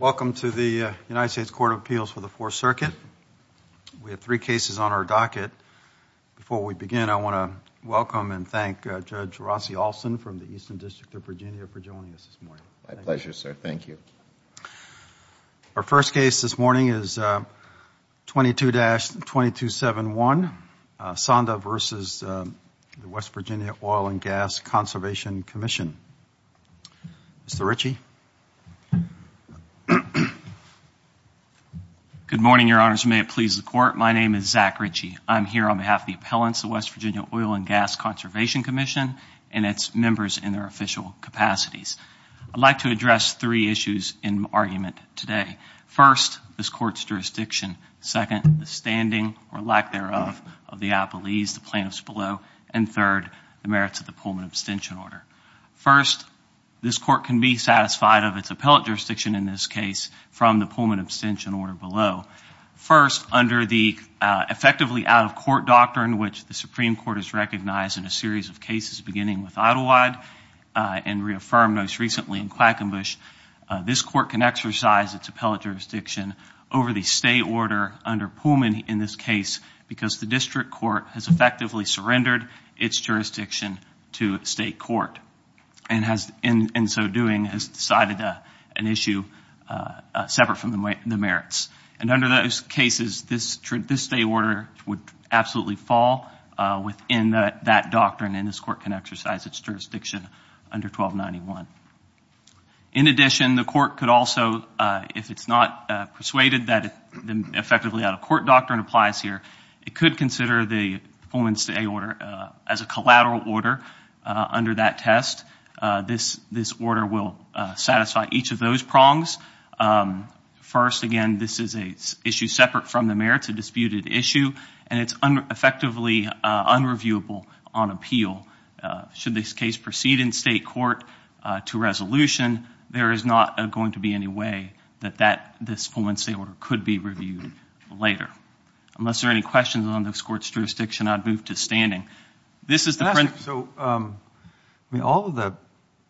Welcome to the United States Court of Appeals for the Fourth Circuit. We have three cases on our docket. Before we begin, I want to welcome and thank Judge Rossi Alston from the Eastern District of Virginia for joining us this morning. My pleasure, sir. Thank you. Our first case this morning is 22-2271, Sonda v. West Virginia Oil & Gas Conservation Commission. Mr. Ritchie. Good morning, Your Honors, and may it please the Court. My name is Zach Ritchie. I'm here on behalf of the appellants of the West Virginia Oil & Gas Conservation Commission and its members in their official capacities. I'd like to address three issues in argument today. First, this Court's jurisdiction. Second, the standing, or lack thereof, of the appellees, the plaintiffs below. And third, the merits of the Pullman abstention order. First, this Court can be satisfied of its appellate jurisdiction in this case from the Pullman abstention order below. First, under the effectively out-of-court doctrine, which the Supreme Court has recognized in a series of cases beginning with Idyllwyde and reaffirmed most recently in Quackenbush, this Court can exercise its appellate jurisdiction over the stay order under Pullman in this case because the district court has effectively surrendered its jurisdiction to state court and in so doing has decided an issue separate from the merits. And under those cases, this stay order would absolutely fall within that doctrine and this Court can exercise its jurisdiction under 1291. In addition, the Court could also, if it's not persuaded that the effectively out-of-court doctrine applies here, it could consider the Pullman stay order as a collateral order under that test. This order will satisfy each of those prongs. First, again, this is an issue separate from the merits, a disputed issue, and it's effectively unreviewable on appeal. Should this case proceed in state court to resolution, there is not going to be any way that this Pullman stay order could be reviewed later. Unless there are any questions on this Court's jurisdiction, I'd move to standing. So all of the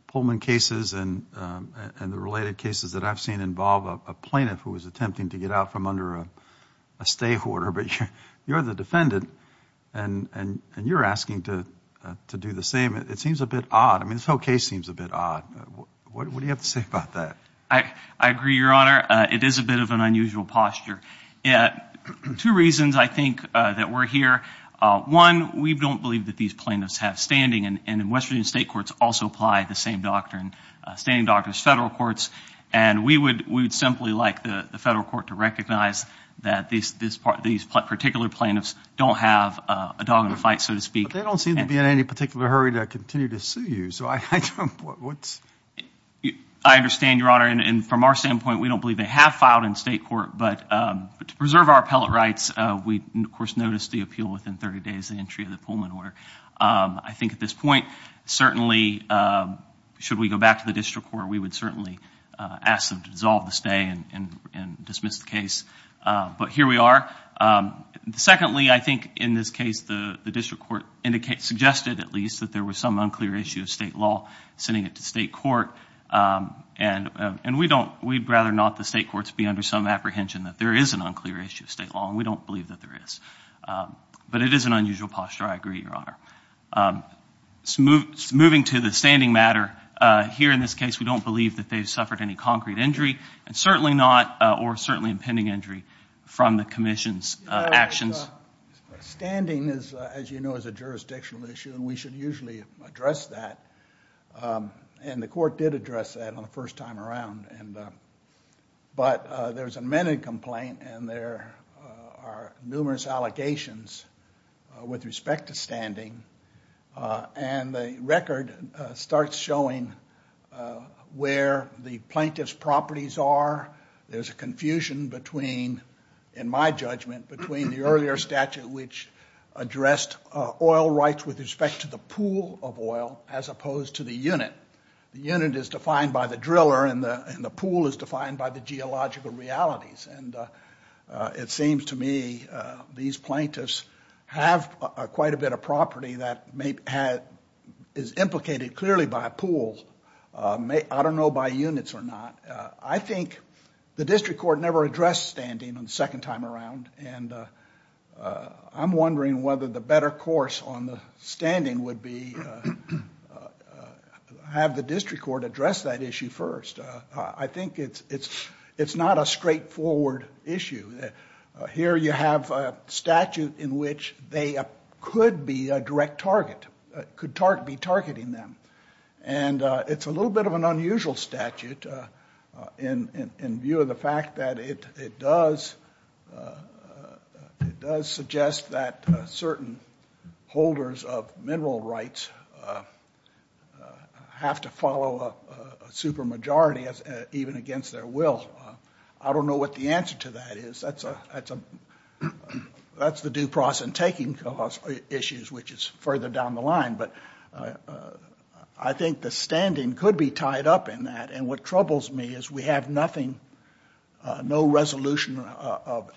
Pullman cases and the related cases that I've seen involve a plaintiff who is attempting to get out from under a stay order, but you're the defendant and you're asking to do the same. It seems a bit odd. I mean, this whole case seems a bit odd. What do you have to say about that? I agree, Your Honor. It is a bit of an unusual posture. Two reasons, I think, that we're here. One, we don't believe that these plaintiffs have standing, and in West Virginia state courts also apply the same doctrine, standing doctrine as federal courts, and we would simply like the federal court to recognize that these particular plaintiffs don't have a dog in the fight, so to speak. But they don't seem to be in any particular hurry to continue to sue you, so I don't know what's – I understand, Your Honor, and from our standpoint, we don't believe they have filed in state court, but to preserve our appellate rights, we, of course, noticed the appeal within 30 days of the entry of the Pullman order. I think at this point, certainly, should we go back to the district court, we would certainly ask them to dissolve the stay and dismiss the case, but here we are. Secondly, I think in this case, the district court suggested, at least, that there was some unclear issue of state law sending it to state court, and we'd rather not the state courts be under some apprehension that there is an unclear issue of state law, and we don't believe that there is. But it is an unusual posture, I agree, Your Honor. Moving to the standing matter, here in this case, we don't believe that they've suffered any concrete injury, and certainly not, or certainly impending injury, from the commission's actions. Standing, as you know, is a jurisdictional issue, and we should usually address that, and the court did address that on the first time around, but there's an amended complaint, and there are numerous allegations with respect to standing, and the record starts showing where the plaintiff's properties are. There's a confusion between, in my judgment, between the earlier statute, which addressed oil rights with respect to the pool of oil as opposed to the unit. The unit is defined by the driller, and the pool is defined by the geological realities, and it seems to me these plaintiffs have quite a bit of property that is implicated clearly by a pool. I don't know by units or not. I think the district court never addressed standing the second time around, and I'm wondering whether the better course on the standing would be to have the district court address that issue first. I think it's not a straightforward issue. Here you have a statute in which they could be a direct target, could be targeting them, and it's a little bit of an unusual statute in view of the fact that it does suggest that certain holders of mineral rights have to follow a supermajority even against their will. I don't know what the answer to that is. That's the due process and taking issues, which is further down the line, but I think the standing could be tied up in that, and what troubles me is we have nothing, no resolution of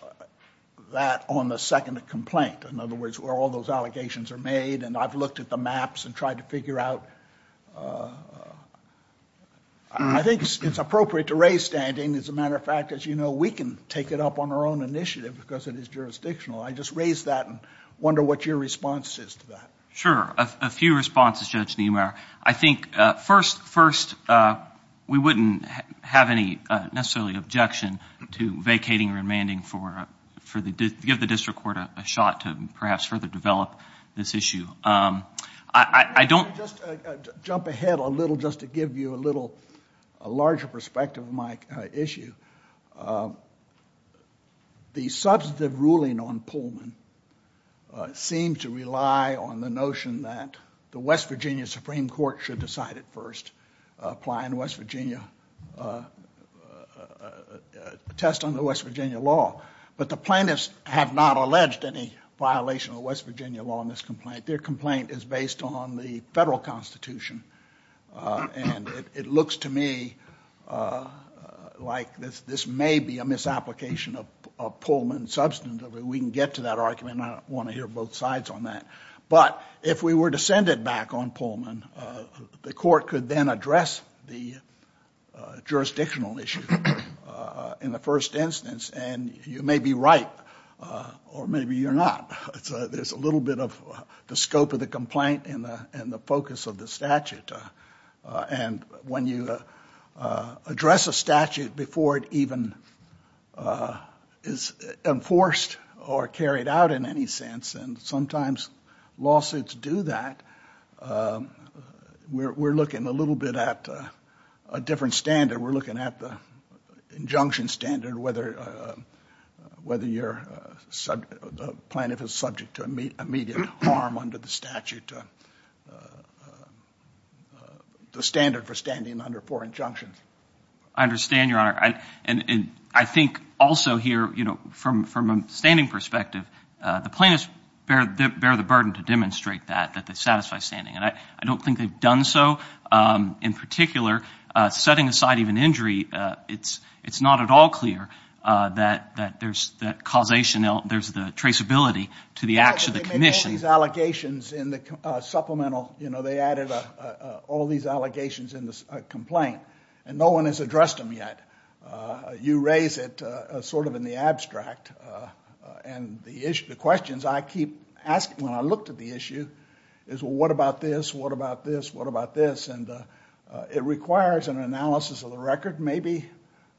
that on the second complaint. In other words, where all those allegations are made, and I've looked at the maps and tried to figure out. I think it's appropriate to raise standing. As a matter of fact, as you know, we can take it up on our own initiative because it is jurisdictional. I just raise that and wonder what your response is to that. Sure. A few responses, Judge Niemeyer. I think first we wouldn't have any necessarily objection to vacating or demanding for the district court a shot to perhaps further develop this issue. I don't... Just to jump ahead a little, just to give you a little larger perspective of my issue. The substantive ruling on Pullman seemed to rely on the notion that the West Virginia Supreme Court should decide it first, apply in West Virginia, test on the West Virginia law, but the plaintiffs have not alleged any violation of West Virginia law in this complaint. Their complaint is based on the federal constitution, and it looks to me like this may be a misapplication of Pullman substantively. We can get to that argument. I don't want to hear both sides on that. But if we were to send it back on Pullman, the court could then address the jurisdictional issue in the first instance, and you may be right, or maybe you're not. There's a little bit of the scope of the complaint and the focus of the statute. And when you address a statute before it even is enforced or carried out in any sense, and sometimes lawsuits do that, we're looking a little bit at a different standard. We're looking at the injunction standard, whether your plaintiff is subject to immediate harm under the statute, the standard for standing under four injunctions. I understand, Your Honor. And I think also here, you know, from a standing perspective, the plaintiffs bear the burden to demonstrate that, that they satisfy standing. And I don't think they've done so. In particular, setting aside even injury, it's not at all clear that there's the causation, there's the traceability to the acts of the commission. They made all these allegations in the supplemental. You know, they added all these allegations in the complaint, and no one has addressed them yet. You raise it sort of in the abstract. And the questions I keep asking when I look at the issue is, well, what about this? What about this? What about this? And it requires an analysis of the record. Maybe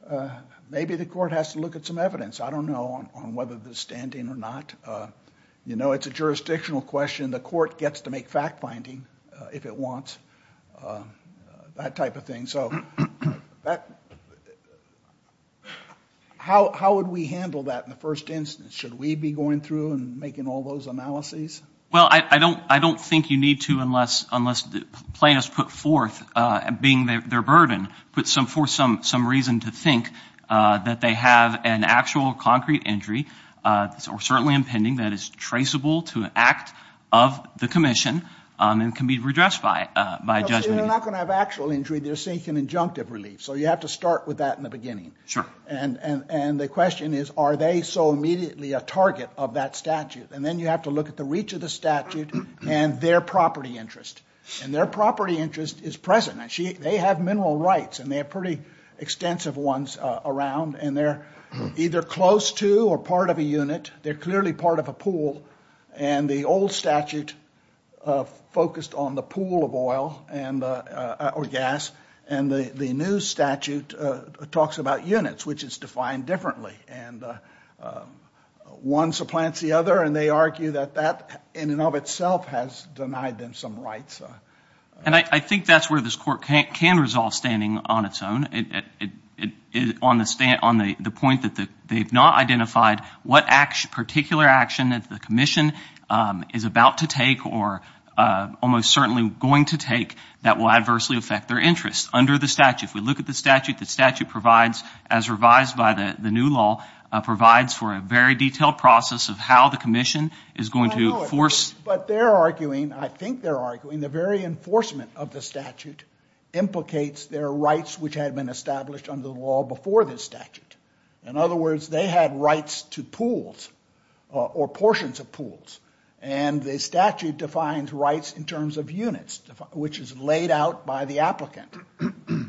the court has to look at some evidence. I don't know on whether there's standing or not. You know, it's a jurisdictional question. The court gets to make fact-finding if it wants, that type of thing. So how would we handle that in the first instance? Should we be going through and making all those analyses? Well, I don't think you need to unless plaintiffs put forth, being their burden, put forth some reason to think that they have an actual concrete injury, or certainly impending, that is traceable to an act of the commission and can be redressed by judgment. They're not going to have actual injury. They're seeking injunctive relief. So you have to start with that in the beginning. And the question is, are they so immediately a target of that statute? And then you have to look at the reach of the statute and their property interest. And their property interest is present. They have mineral rights, and they have pretty extensive ones around, and they're either close to or part of a unit. They're clearly part of a pool. And the old statute focused on the pool of oil or gas, and the new statute talks about units, which is defined differently. And one supplants the other, and they argue that that in and of itself has denied them some rights. And I think that's where this court can resolve standing on its own, on the point that they've not identified what particular action that the commission is about to take or almost certainly going to take that will adversely affect their interests under the statute. If we look at the statute, the statute provides, as revised by the new law, provides for a very detailed process of how the commission is going to force. But they're arguing, I think they're arguing, the very enforcement of the statute implicates their rights, which had been established under the law before this statute. In other words, they had rights to pools or portions of pools, and the statute defines rights in terms of units, which is laid out by the applicant.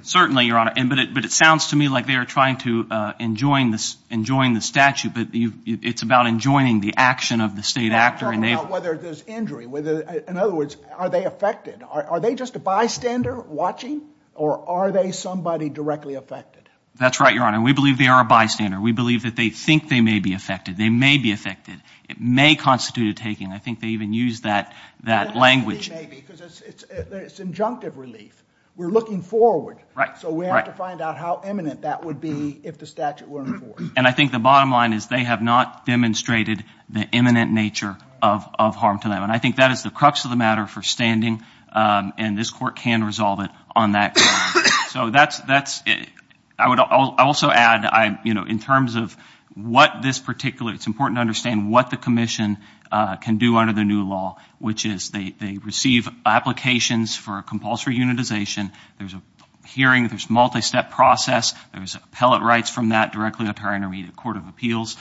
Certainly, Your Honor. But it sounds to me like they are trying to enjoin the statute, but it's about enjoining the action of the state actor. They're not talking about whether there's injury. In other words, are they affected? Are they just a bystander watching, or are they somebody directly affected? That's right, Your Honor. We believe they are a bystander. We believe that they think they may be affected. They may be affected. It may constitute a taking. I think they even use that language. It may be, because it's injunctive relief. We're looking forward, so we have to find out how imminent that would be if the statute were enforced. And I think the bottom line is they have not demonstrated the imminent nature of harm to them, and I think that is the crux of the matter for standing, and this Court can resolve it on that ground. So that's it. I would also add, you know, in terms of what this particular – it's important to understand what the Commission can do under the new law, which is they receive applications for a compulsory unitization. There's a hearing. There's a multi-step process. There's appellate rights from that directly up to our intermediate court of appeals.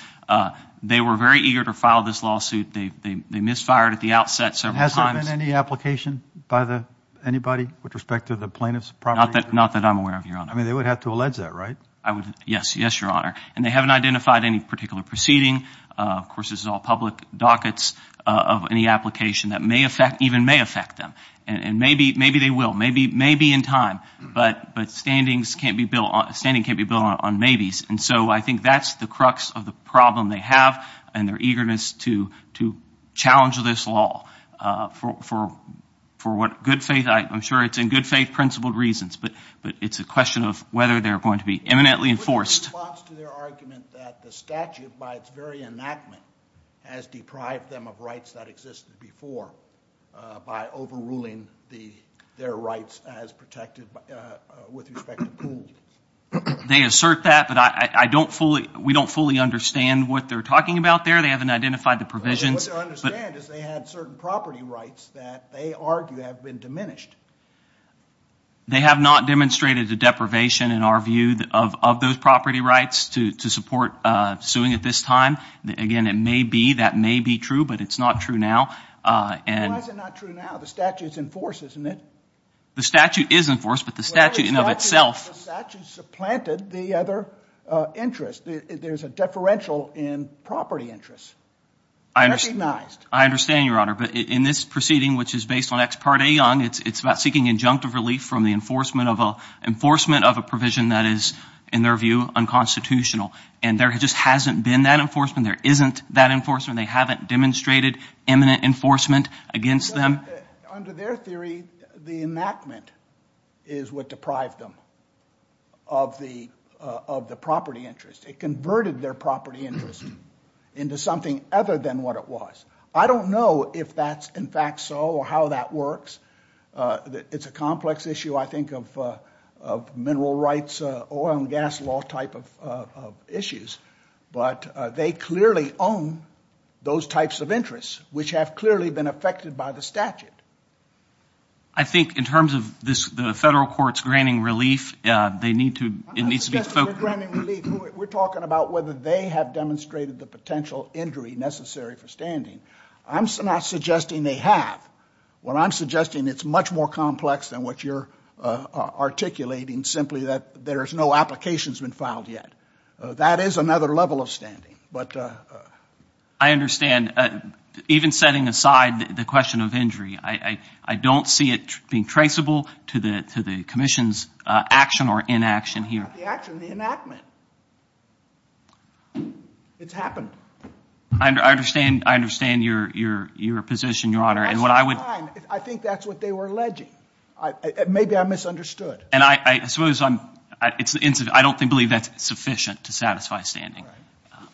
They were very eager to file this lawsuit. They misfired at the outset several times. Has there been any application by anybody with respect to the plaintiff's property? Not that I'm aware of, Your Honor. I mean, they would have to allege that, right? Yes, Your Honor. And they haven't identified any particular proceeding. Of course, this is all public dockets of any application that may affect – even may affect them, and maybe they will, maybe in time. But standings can't be built on maybes, and so I think that's the crux of the problem they have and their eagerness to challenge this law for what good faith – but it's a question of whether they're going to be eminently enforced. What's the response to their argument that the statute, by its very enactment, has deprived them of rights that existed before by overruling their rights as protected with respect to pools? They assert that, but I don't fully – we don't fully understand what they're talking about there. They haven't identified the provisions. What they understand is they had certain property rights that they argue have been diminished. They have not demonstrated a deprivation, in our view, of those property rights to support suing at this time. Again, it may be. That may be true, but it's not true now. Why is it not true now? The statute is enforced, isn't it? The statute is enforced, but the statute in and of itself – The statute supplanted the other interest. There's a deferential in property interests. I understand, Your Honor, but in this proceeding, which is based on Ex Parte Young, it's about seeking injunctive relief from the enforcement of a provision that is, in their view, unconstitutional. And there just hasn't been that enforcement. There isn't that enforcement. They haven't demonstrated imminent enforcement against them. Under their theory, the enactment is what deprived them of the property interest. It converted their property interest into something other than what it was. I don't know if that's in fact so or how that works. It's a complex issue, I think, of mineral rights, oil and gas law type of issues. But they clearly own those types of interests, which have clearly been affected by the statute. I think in terms of the federal courts granting relief, they need to – We're talking about whether they have demonstrated the potential injury necessary for standing. I'm not suggesting they have. What I'm suggesting, it's much more complex than what you're articulating, simply that there's no applications been filed yet. That is another level of standing. I understand. Even setting aside the question of injury, I don't see it being traceable to the commission's action or inaction here. It's not the action, the enactment. It's happened. I understand your position, Your Honor. That's fine. I think that's what they were alleging. Maybe I misunderstood. I don't believe that's sufficient to satisfy standing.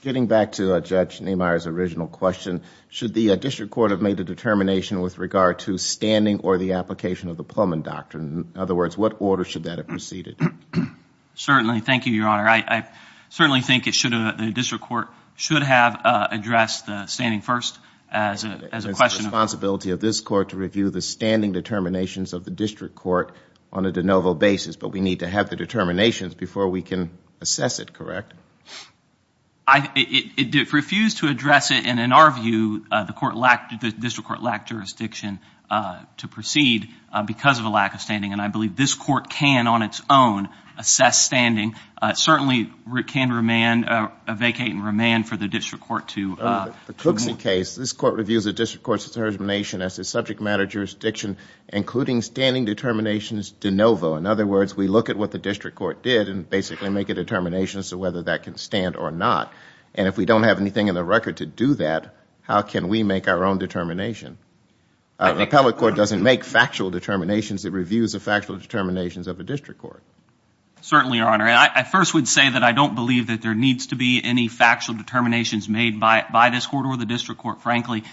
Getting back to Judge Niemeyer's original question, should the district court have made a determination with regard to standing or the application of the Pullman Doctrine? In other words, what order should that have preceded? Certainly. Thank you, Your Honor. I certainly think the district court should have addressed the standing first as a question. It's the responsibility of this court to review the standing determinations of the district court on a de novo basis, but we need to have the determinations before we can assess it, correct? It refused to address it, and in our view, the district court lacked jurisdiction to proceed because of a lack of standing. And I believe this court can, on its own, assess standing. It certainly can vacate and remand for the district court to do more. The Cooksey case, this court reviews the district court's determination as a subject matter jurisdiction, including standing determinations de novo. In other words, we look at what the district court did and basically make a determination as to whether that can stand or not. And if we don't have anything in the record to do that, how can we make our own determination? The appellate court doesn't make factual determinations. It reviews the factual determinations of the district court. Certainly, Your Honor. I first would say that I don't believe that there needs to be any factual determinations made by this court or the district court. Frankly,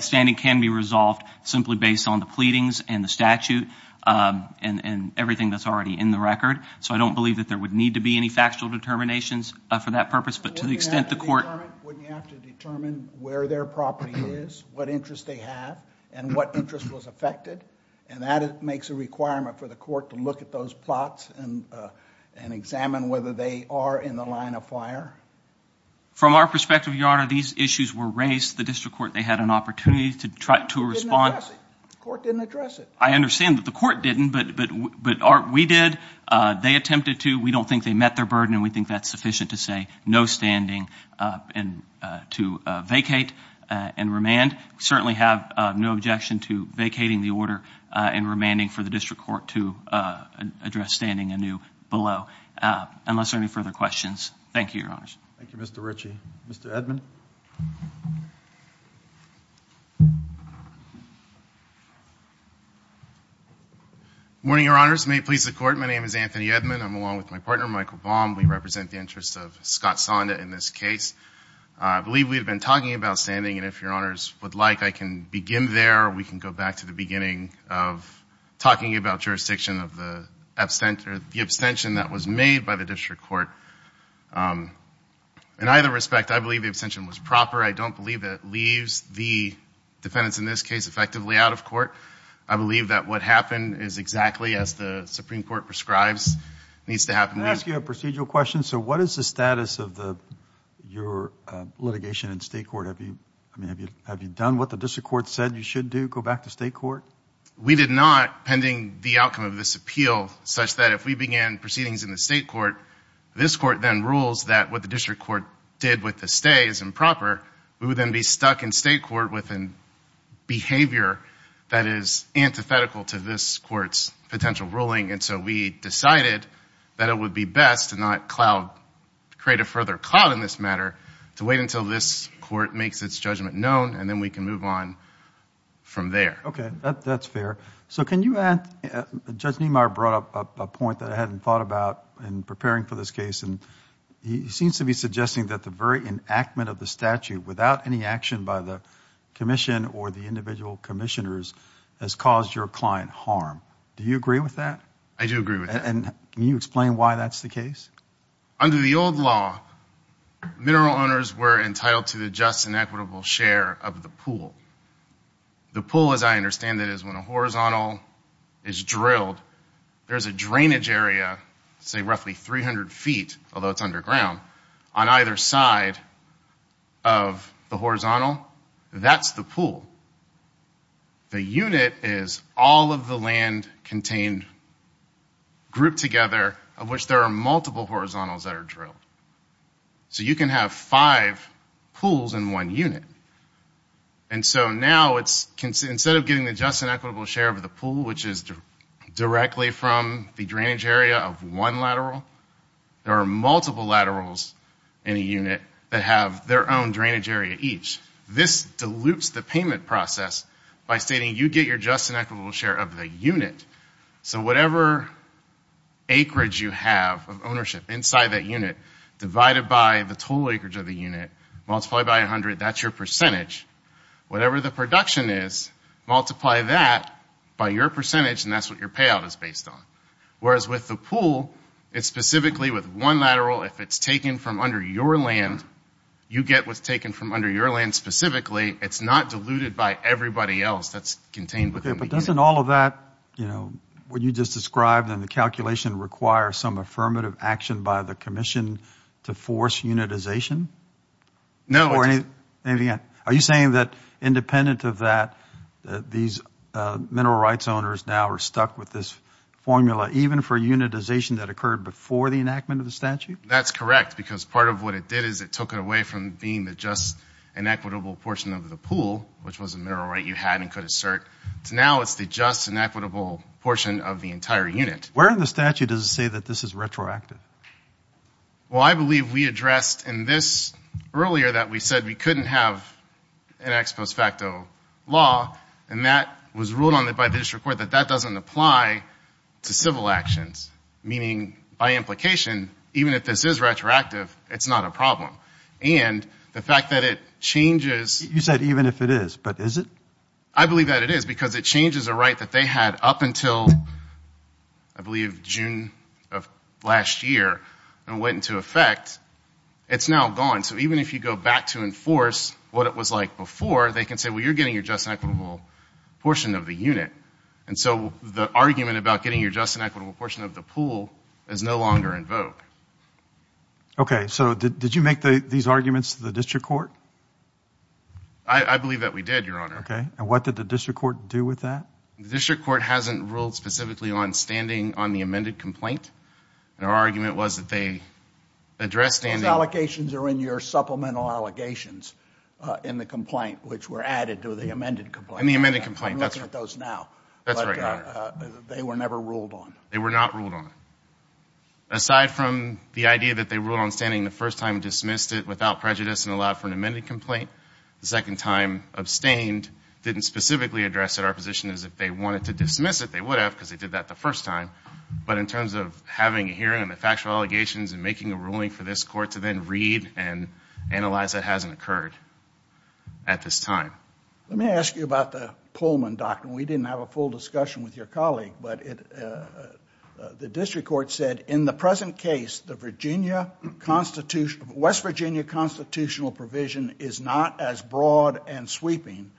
standing can be resolved simply based on the pleadings and the statute and everything that's already in the record. So I don't believe that there would need to be any factual determinations for that purpose. But to the extent the court— and what interest was affected, and that makes a requirement for the court to look at those plots and examine whether they are in the line of fire. From our perspective, Your Honor, these issues were raised. The district court, they had an opportunity to try to respond. The court didn't address it. I understand that the court didn't, but we did. They attempted to. We don't think they met their burden, and we think that's sufficient to say no standing to vacate and remand. We certainly have no objection to vacating the order and remanding for the district court to address standing anew below, unless there are any further questions. Thank you, Your Honors. Thank you, Mr. Ritchie. Mr. Edmond. Good morning, Your Honors. May it please the Court, my name is Anthony Edmond. I'm along with my partner, Michael Baum. We represent the interests of Scott Sonda in this case. I believe we have been talking about standing, and if Your Honors would like, I can begin there, or we can go back to the beginning of talking about jurisdiction of the abstention that was made by the district court. In either respect, I believe the abstention was proper. I don't believe it leaves the defendants in this case effectively out of court. I believe that what happened is exactly as the Supreme Court prescribes needs to happen. Can I ask you a procedural question? So what is the status of your litigation in state court? Have you done what the district court said you should do, go back to state court? We did not, pending the outcome of this appeal, such that if we began proceedings in the state court, this court then rules that what the district court did with the stay is improper. We would then be stuck in state court with a behavior that is antithetical to this court's potential ruling, and so we decided that it would be best to not create a further cloud in this matter, to wait until this court makes its judgment known, and then we can move on from there. Okay, that's fair. So can you add, Judge Niemeyer brought up a point that I hadn't thought about in preparing for this case, and he seems to be suggesting that the very enactment of the statute without any action by the commission or the individual commissioners has caused your client harm. Do you agree with that? I do agree with that. And can you explain why that's the case? Under the old law, mineral owners were entitled to the just and equitable share of the pool. The pool, as I understand it, is when a horizontal is drilled, there's a drainage area, say roughly 300 feet, although it's underground, on either side of the horizontal. That's the pool. The unit is all of the land contained, grouped together, of which there are multiple horizontals that are drilled. So you can have five pools in one unit. And so now instead of getting the just and equitable share of the pool, which is directly from the drainage area of one lateral, there are multiple laterals in a unit that have their own drainage area each. This dilutes the payment process by stating you get your just and equitable share of the unit. So whatever acreage you have of ownership inside that unit, divided by the total acreage of the unit, multiplied by 100, that's your percentage. Whatever the production is, multiply that by your percentage, and that's what your payout is based on. Whereas with the pool, it's specifically with one lateral. If it's taken from under your land, you get what's taken from under your land specifically. It's not diluted by everybody else that's contained within the unit. Okay, but doesn't all of that, you know, what you just described in the calculation, require some affirmative action by the commission to force unitization? No. Are you saying that independent of that, these mineral rights owners now are stuck with this formula, even for unitization that occurred before the enactment of the statute? That's correct, because part of what it did is it took it away from being the just and equitable portion of the pool, which was a mineral right you had and could assert, to now it's the just and equitable portion of the entire unit. Where in the statute does it say that this is retroactive? Well, I believe we addressed in this earlier that we said we couldn't have an ex post facto law, and that was ruled on by the district court that that doesn't apply to civil actions, meaning by implication, even if this is retroactive, it's not a problem. And the fact that it changes. You said even if it is, but is it? I believe that it is, because it changes a right that they had up until I believe June of last year and went into effect. It's now gone, so even if you go back to enforce what it was like before, they can say, well, you're getting your just and equitable portion of the unit. And so the argument about getting your just and equitable portion of the pool is no longer in vogue. Okay, so did you make these arguments to the district court? I believe that we did, Your Honor. Okay, and what did the district court do with that? The district court hasn't ruled specifically on standing on the amended complaint. Their argument was that they addressed standing. Your allegations are in your supplemental allegations in the complaint, which were added to the amended complaint. In the amended complaint, that's right. I'm looking at those now. That's right, Your Honor. But they were never ruled on. They were not ruled on. Aside from the idea that they ruled on standing the first time and dismissed it without prejudice and allowed for an amended complaint, the second time abstained, didn't specifically address it. Our position is if they wanted to dismiss it, they would have because they did that the first time. But in terms of having a hearing on the factual allegations and making a ruling for this court to then read and analyze, that hasn't occurred at this time. Let me ask you about the Pullman doctrine. We didn't have a full discussion with your colleague, but the district court said in the present case, the West Virginia constitutional provision is not as broad and sweeping,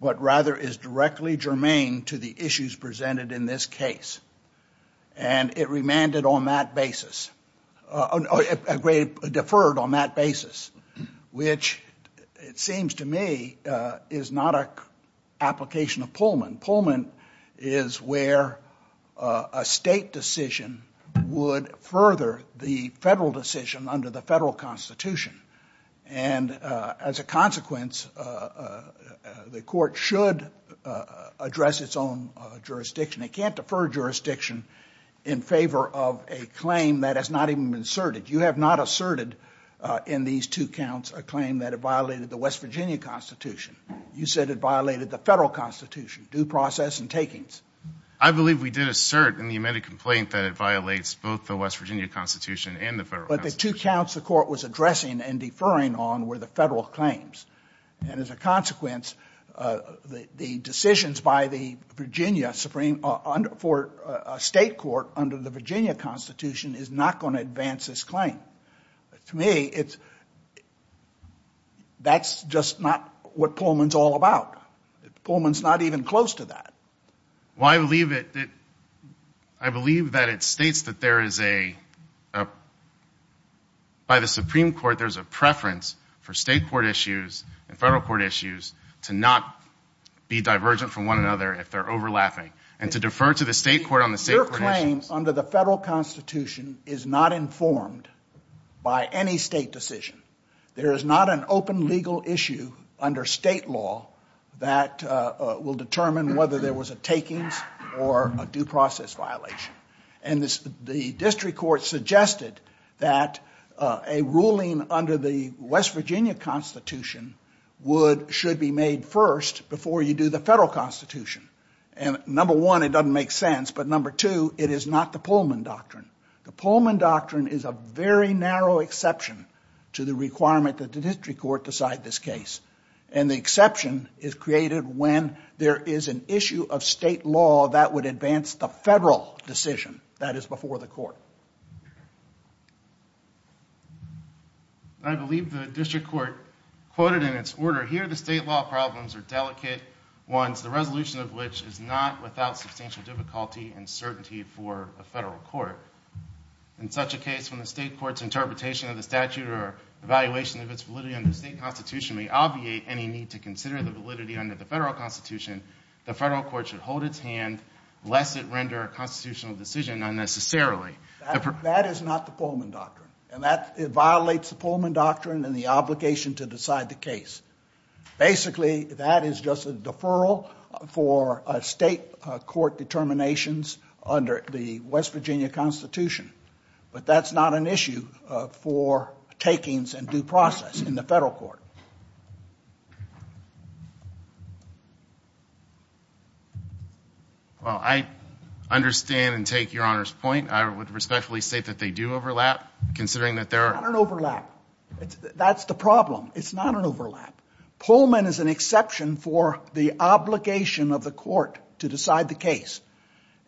but rather is directly germane to the issues presented in this case. And it remanded on that basis, deferred on that basis, which it seems to me is not an application of Pullman. Pullman is where a state decision would further the federal decision under the federal constitution. And as a consequence, the court should address its own jurisdiction. It can't defer jurisdiction in favor of a claim that has not even been asserted. You have not asserted in these two counts a claim that it violated the West Virginia constitution. You said it violated the federal constitution, due process and takings. I believe we did assert in the amended complaint that it violates both the West Virginia constitution and the federal constitution. But the two counts the court was addressing and deferring on were the federal claims. And as a consequence, the decisions by the Virginia Supreme, for a state court under the Virginia constitution is not going to advance this claim. To me, that's just not what Pullman's all about. Pullman's not even close to that. Well, I believe that it states that there is a, by the Supreme Court, there's a preference for state court issues and federal court issues to not be divergent from one another if they're overlapping, and to defer to the state court on the state court issues. Your claim under the federal constitution is not informed by any state decision. There is not an open legal issue under state law that will determine whether there was a takings or a due process violation. And the district court suggested that a ruling under the West Virginia constitution should be made first before you do the federal constitution. And number one, it doesn't make sense. But number two, it is not the Pullman doctrine. The Pullman doctrine is a very narrow exception to the requirement that the district court decide this case. And the exception is created when there is an issue of state law that would advance the federal decision that is before the court. I believe the district court quoted in its order, here the state law problems are delicate ones, the resolution of which is not without substantial difficulty and certainty for a federal court. In such a case, when the state court's interpretation of the statute or evaluation of its validity under the state constitution may obviate any need to consider the validity under the federal constitution, the federal court should hold its hand lest it render a constitutional decision unnecessarily. That is not the Pullman doctrine. It violates the Pullman doctrine and the obligation to decide the case. Basically, that is just a deferral for state court determinations under the West Virginia constitution. But that's not an issue for takings and due process in the federal court. Well, I understand and take Your Honor's point. I would respectfully state that they do overlap, considering that there are... Not an overlap. That's the problem. It's not an overlap. Pullman is an exception for the obligation of the court to decide the case.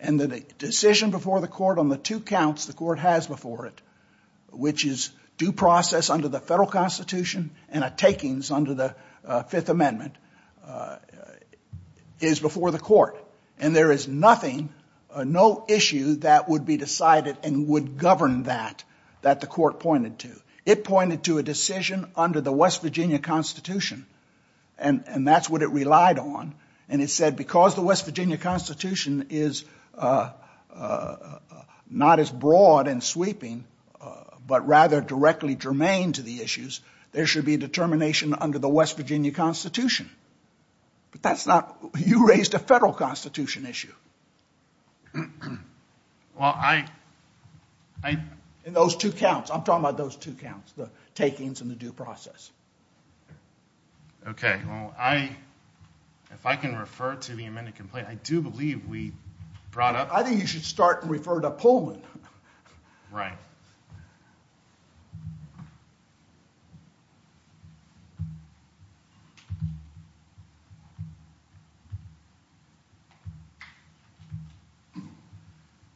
And the decision before the court on the two counts the court has before it, which is due process under the federal constitution and a takings under the Fifth Amendment, is before the court. And there is nothing, no issue that would be decided and would govern that that the court pointed to. It pointed to a decision under the West Virginia constitution. And that's what it relied on. And it said because the West Virginia constitution is not as broad and sweeping, but rather directly germane to the issues, there should be determination under the West Virginia constitution. But that's not... You raised a federal constitution issue. Well, I... In those two counts. I'm talking about those two counts, the takings and the due process. Okay. Well, if I can refer to the amended complaint, I do believe we brought up... I think you should start and refer to Pullman. Right.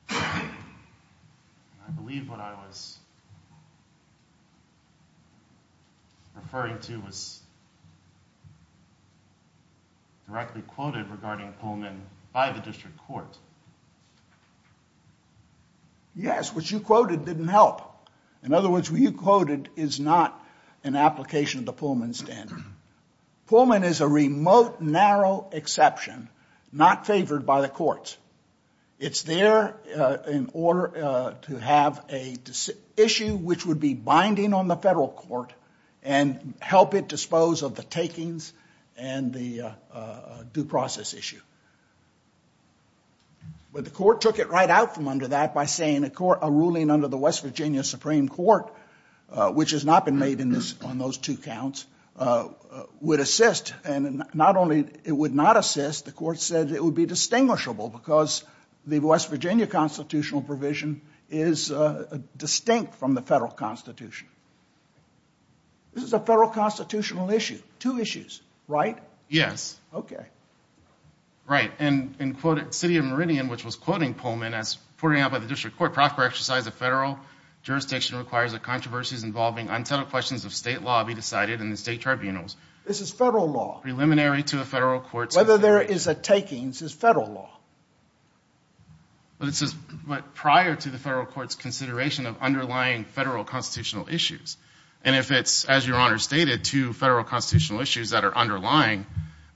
I believe what I was referring to was directly quoted regarding Pullman by the district court. Yes, what you quoted didn't help. In other words, what you quoted is not an application of the Pullman standard. Pullman is a remote, narrow exception, not favored by the courts. It's there in order to have an issue which would be binding on the federal court and help it dispose of the takings and the due process issue. But the court took it right out from under that by saying a ruling under the West Virginia Supreme Court, which has not been made on those two counts, would assist. And not only it would not assist, the court said it would be distinguishable because the West Virginia constitutional provision is distinct from the federal constitution. This is a federal constitutional issue. Two issues, right? Yes. Okay. Right. And in city of Meridian, which was quoting Pullman, as pointed out by the district court, proper exercise of federal jurisdiction requires that controversies involving untitled questions of state law be decided in the state tribunals. This is federal law. Preliminary to a federal court's decision. Whether there is a takings is federal law. But it says prior to the federal court's consideration of underlying federal constitutional issues. And if it's, as Your Honor stated, two federal constitutional issues that are underlying,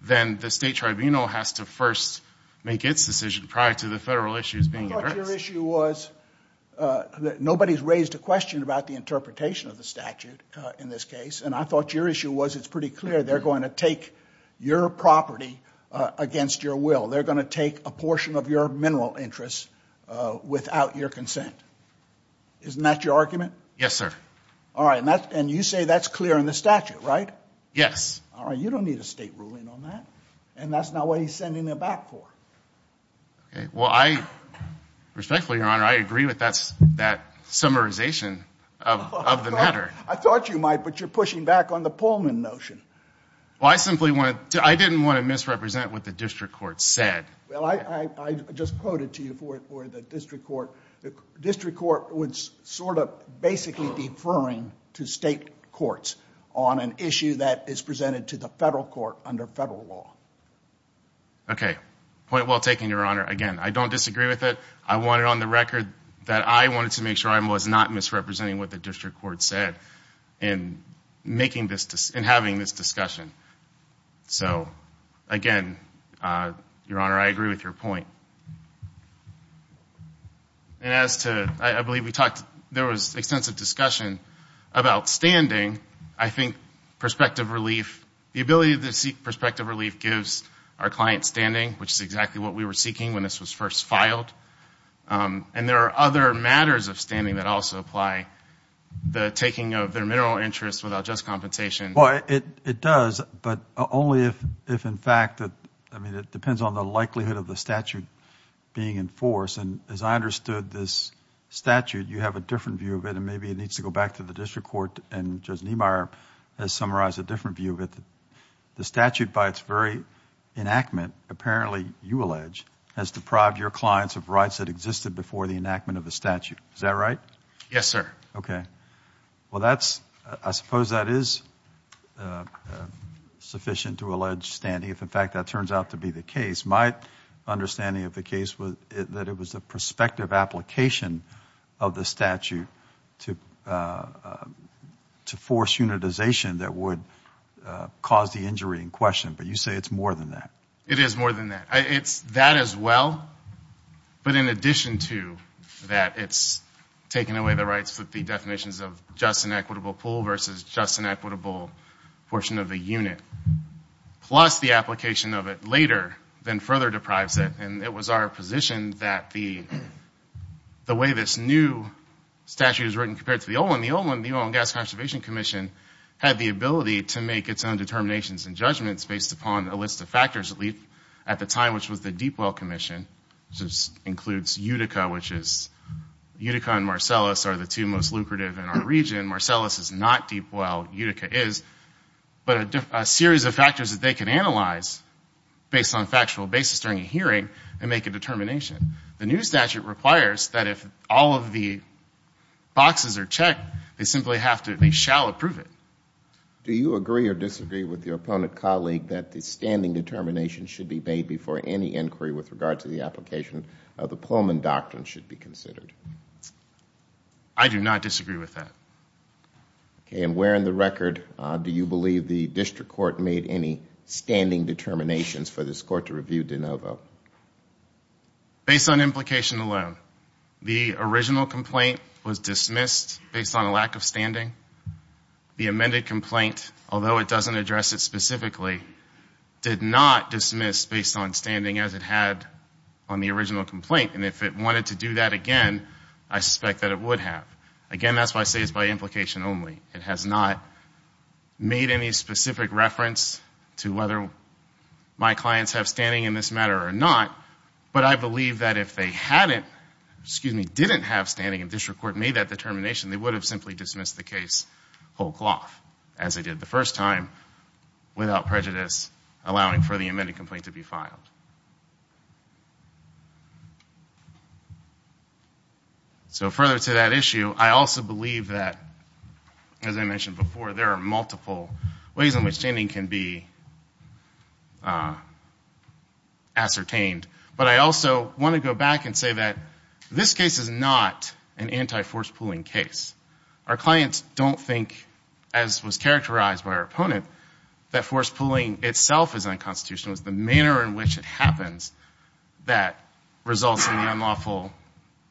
then the state tribunal has to first make its decision I thought your issue was that nobody's raised a question about the interpretation of the statute in this case. And I thought your issue was it's pretty clear they're going to take your property against your will. They're going to take a portion of your mineral interests without your consent. Isn't that your argument? Yes, sir. All right. And you say that's clear in the statute, right? Yes. All right. You don't need a state ruling on that. And that's not what he's sending it back for. Okay. Well, I respectfully, Your Honor, I agree with that summarization of the matter. I thought you might. But you're pushing back on the Pullman notion. Well, I simply wanted to. I didn't want to misrepresent what the district court said. Well, I just quoted to you for the district court. The district court was sort of basically deferring to state courts on an issue that is presented to the federal court under federal law. Okay. Point well taken, Your Honor. Again, I don't disagree with it. I wanted on the record that I wanted to make sure I was not misrepresenting what the district court said in having this discussion. So, again, Your Honor, I agree with your point. And as to, I believe we talked, there was extensive discussion about standing. I think perspective relief, the ability to seek perspective relief gives our client standing, which is exactly what we were seeking when this was first filed. And there are other matters of standing that also apply. The taking of their mineral interest without just compensation. Well, it does, but only if, in fact, I mean, it depends on the likelihood of the statute being enforced. And as I understood this statute, you have a different view of it, and maybe it needs to go back to the district court. And Judge Niemeyer has summarized a different view of it. The statute, by its very enactment, apparently, you allege, has deprived your clients of rights that existed before the enactment of the statute. Is that right? Yes, sir. Okay. Well, that's, I suppose that is sufficient to allege standing. If, in fact, that turns out to be the case. My understanding of the case was that it was a prospective application of the statute to force unitization that would cause the injury in question. But you say it's more than that. It is more than that. It's that as well, but in addition to that, it's taken away the rights with the definitions of just and equitable pool versus just and equitable portion of the unit, plus the application of it later then further deprives it. And it was our position that the way this new statute is written compared to the old one, the old one, the Oil and Gas Conservation Commission had the ability to make its own determinations and judgments based upon a list of factors, at least at the time, which was the Deepwell Commission, which includes Utica, which is Utica and Marcellus are the two most lucrative in our region. Marcellus is not Deepwell. Utica is. But a series of factors that they can analyze based on factual basis during a hearing and make a determination. The new statute requires that if all of the boxes are checked, they simply have to, they shall approve it. Do you agree or disagree with your opponent colleague that the standing determination should be made before any inquiry with regard to the application of the Pullman Doctrine should be considered? I do not disagree with that. Okay, and where in the record do you believe the district court made any standing determinations for this court to review de novo? Based on implication alone, the original complaint was dismissed based on a lack of standing. The amended complaint, although it doesn't address it specifically, did not dismiss based on standing as it had on the original complaint. And if it wanted to do that again, I suspect that it would have. Again, that's why I say it's by implication only. It has not made any specific reference to whether my clients have standing in this matter or not. But I believe that if they hadn't, excuse me, didn't have standing and district court made that determination, they would have simply dismissed the case whole cloth, as they did the first time, without prejudice, allowing for the amended complaint to be filed. So further to that issue, I also believe that, as I mentioned before, there are multiple ways in which standing can be ascertained. But I also want to go back and say that this case is not an anti-force pooling case. Our clients don't think, as was characterized by our opponent, that force pooling itself is unconstitutional. It's the manner in which it happens that results in the unlawful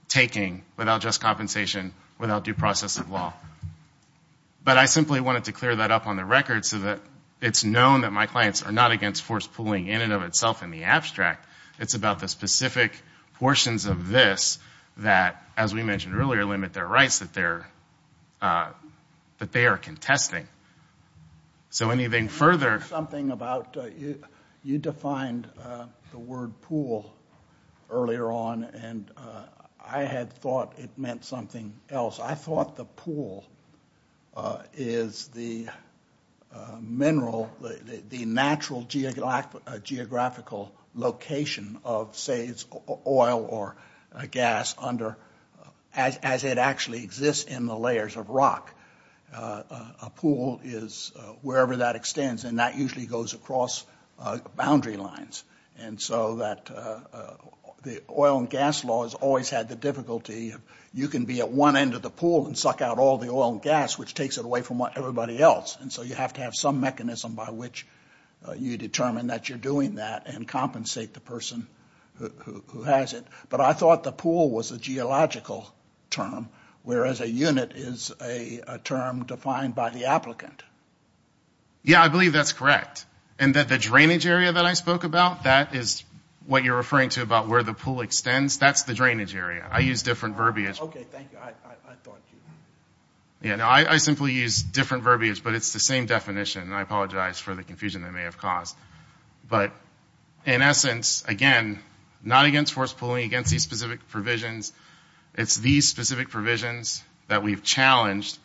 taking without just compensation, without due process of law. But I simply wanted to clear that up on the record so that it's known that my clients are not against force pooling in and of itself in the abstract. It's about the specific portions of this that, as we mentioned earlier, limit their rights that they are contesting. So anything further... You defined the word pool earlier on, and I had thought it meant something else. I thought the pool is the mineral, the natural geographical location of, say, oil or gas as it actually exists in the layers of rock. A pool is wherever that extends, and that usually goes across boundary lines. And so the oil and gas law has always had the difficulty... You can be at one end of the pool and suck out all the oil and gas, which takes it away from everybody else. And so you have to have some mechanism by which you determine that you're doing that and compensate the person who has it. But I thought the pool was a geological term, whereas a unit is a term defined by the applicant. Yeah, I believe that's correct. And that the drainage area that I spoke about, that is what you're referring to about where the pool extends. That's the drainage area. I use different verbiage. Okay, thank you. I thought you... Yeah, no, I simply use different verbiage, but it's the same definition. And I apologize for the confusion that may have caused. But in essence, again, not against forced pooling, against these specific provisions. It's these specific provisions that we've challenged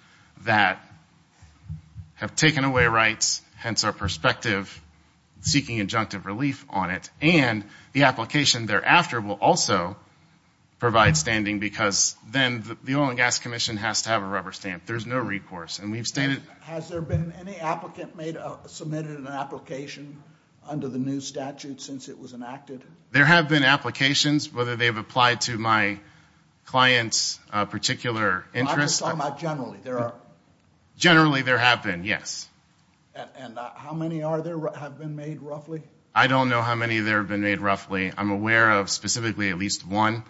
that have taken away rights, hence our perspective, seeking injunctive relief on it. And the application thereafter will also provide standing because then the Oil and Gas Commission has to have a rubber stamp. There's no recourse. And we've stated... Has there been any applicant submitted an application under the new statute since it was enacted? There have been applications, whether they've applied to my client's particular interest. I'm just talking about generally. Generally, there have been, yes. And how many have been made, roughly? I don't know how many there have been made, roughly. I'm aware of specifically at least one.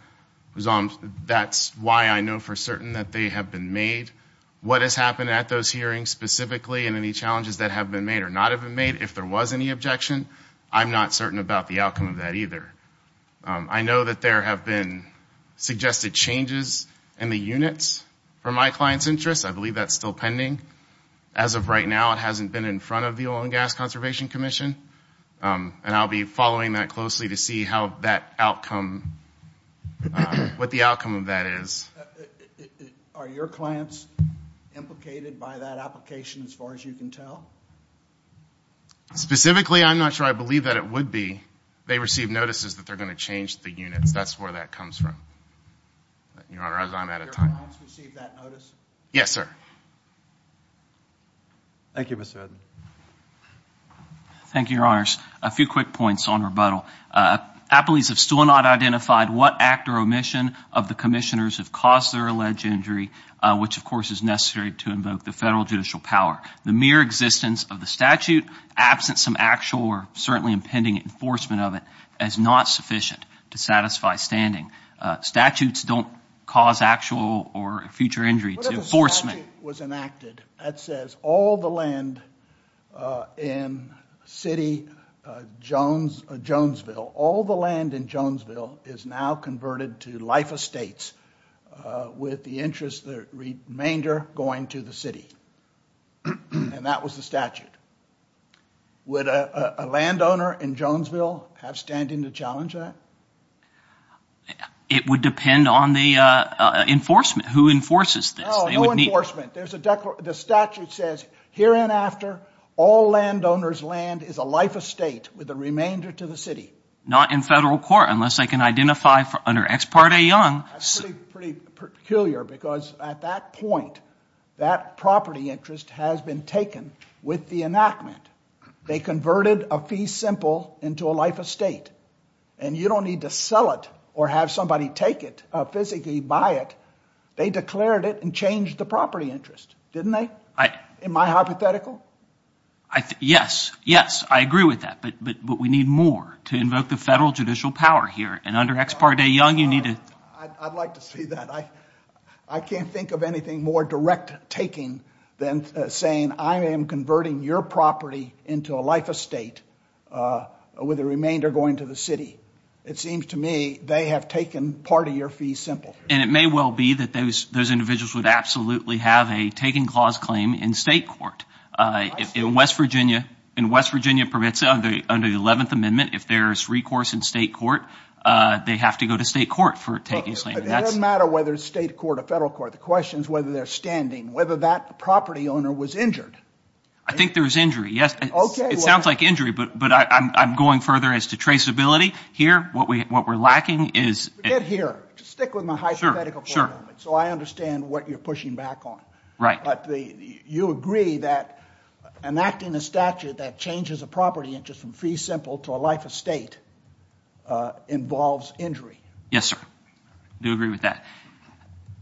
That's why I know for certain that they have been made. What has happened at those hearings specifically and any challenges that have been made or not have been made, if there was any objection, I'm not certain about the outcome of that either. I know that there have been suggested changes in the units for my client's interest. I believe that's still pending. As of right now, it hasn't been in front of the Oil and Gas Conservation Commission. And I'll be following that closely to see how that outcome... what the outcome of that is. Are your clients implicated by that application, as far as you can tell? Specifically, I'm not sure I believe that it would be. They receive notices that they're going to change the units. That's where that comes from, Your Honor, as I'm out of time. Do your clients receive that notice? Yes, sir. Thank you, Mr. Edmund. Thank you, Your Honors. A few quick points on rebuttal. Appellees have still not identified what act or omission of the commissioners have caused their alleged injury, which, of course, is necessary to invoke the federal judicial power. The mere existence of the statute, absent some actual or certainly impending enforcement of it, is not sufficient to satisfy standing. Statutes don't cause actual or future injury to enforcement. What if a statute was enacted that says all the land in City Jonesville, all the land in Jonesville, is now converted to life estates with the interest, the remainder, going to the city? And that was the statute. Would a landowner in Jonesville have standing to challenge that? It would depend on the enforcement. Who enforces this? No, no enforcement. The statute says, here and after, all landowners' land is a life estate with the remainder to the city. Not in federal court unless they can identify under Ex parte Young. That's pretty peculiar because at that point, that property interest has been taken with the enactment. They converted a fee simple into a life estate. And you don't need to sell it or have somebody take it, physically buy it. They declared it and changed the property interest, didn't they? Am I hypothetical? Yes, yes, I agree with that. But we need more to invoke the federal judicial power here. And under Ex parte Young, you need to... I'd like to see that. I can't think of anything more direct taking than saying, I am converting your property into a life estate with the remainder going to the city. It seems to me they have taken part of your fee simple. And it may well be that those individuals would absolutely have a taking clause claim in state court. In West Virginia, in West Virginia permits under the 11th Amendment, if there's recourse in state court, they have to go to state court for taking a claim. It doesn't matter whether it's state court or federal court. The question is whether they're standing, whether that property owner was injured. I think there's injury, yes. It sounds like injury, but I'm going further as to traceability. Here, what we're lacking is... Forget here. Just stick with my hypothetical for a moment. So I understand what you're pushing back on. But you agree that enacting a statute that changes a property interest from fee simple to a life estate involves injury. Yes, sir. I do agree with that.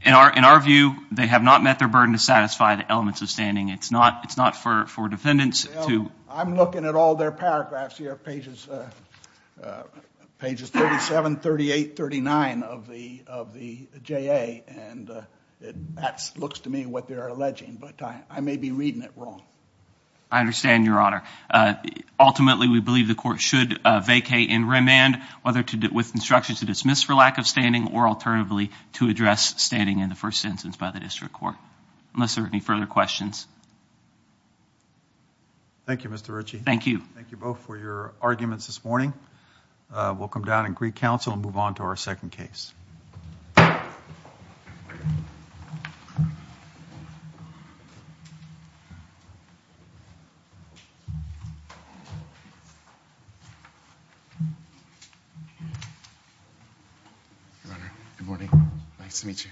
In our view, they have not met their burden to satisfy the elements of standing. It's not for defendants to... I'm looking at all their paragraphs here. Pages 37, 38, 39 of the JA, and that looks to me what they're alleging. But I may be reading it wrong. I understand, Your Honor. Ultimately, we believe the court should vacate and remand, whether with instructions to dismiss for lack of standing or alternatively to address standing in the first sentence by the district court. Unless there are any further questions. Thank you, Mr. Ritchie. Thank you. Thank you both for your arguments this morning. We'll come down and greet counsel and move on to our second case. Your Honor, good morning. Nice to meet you.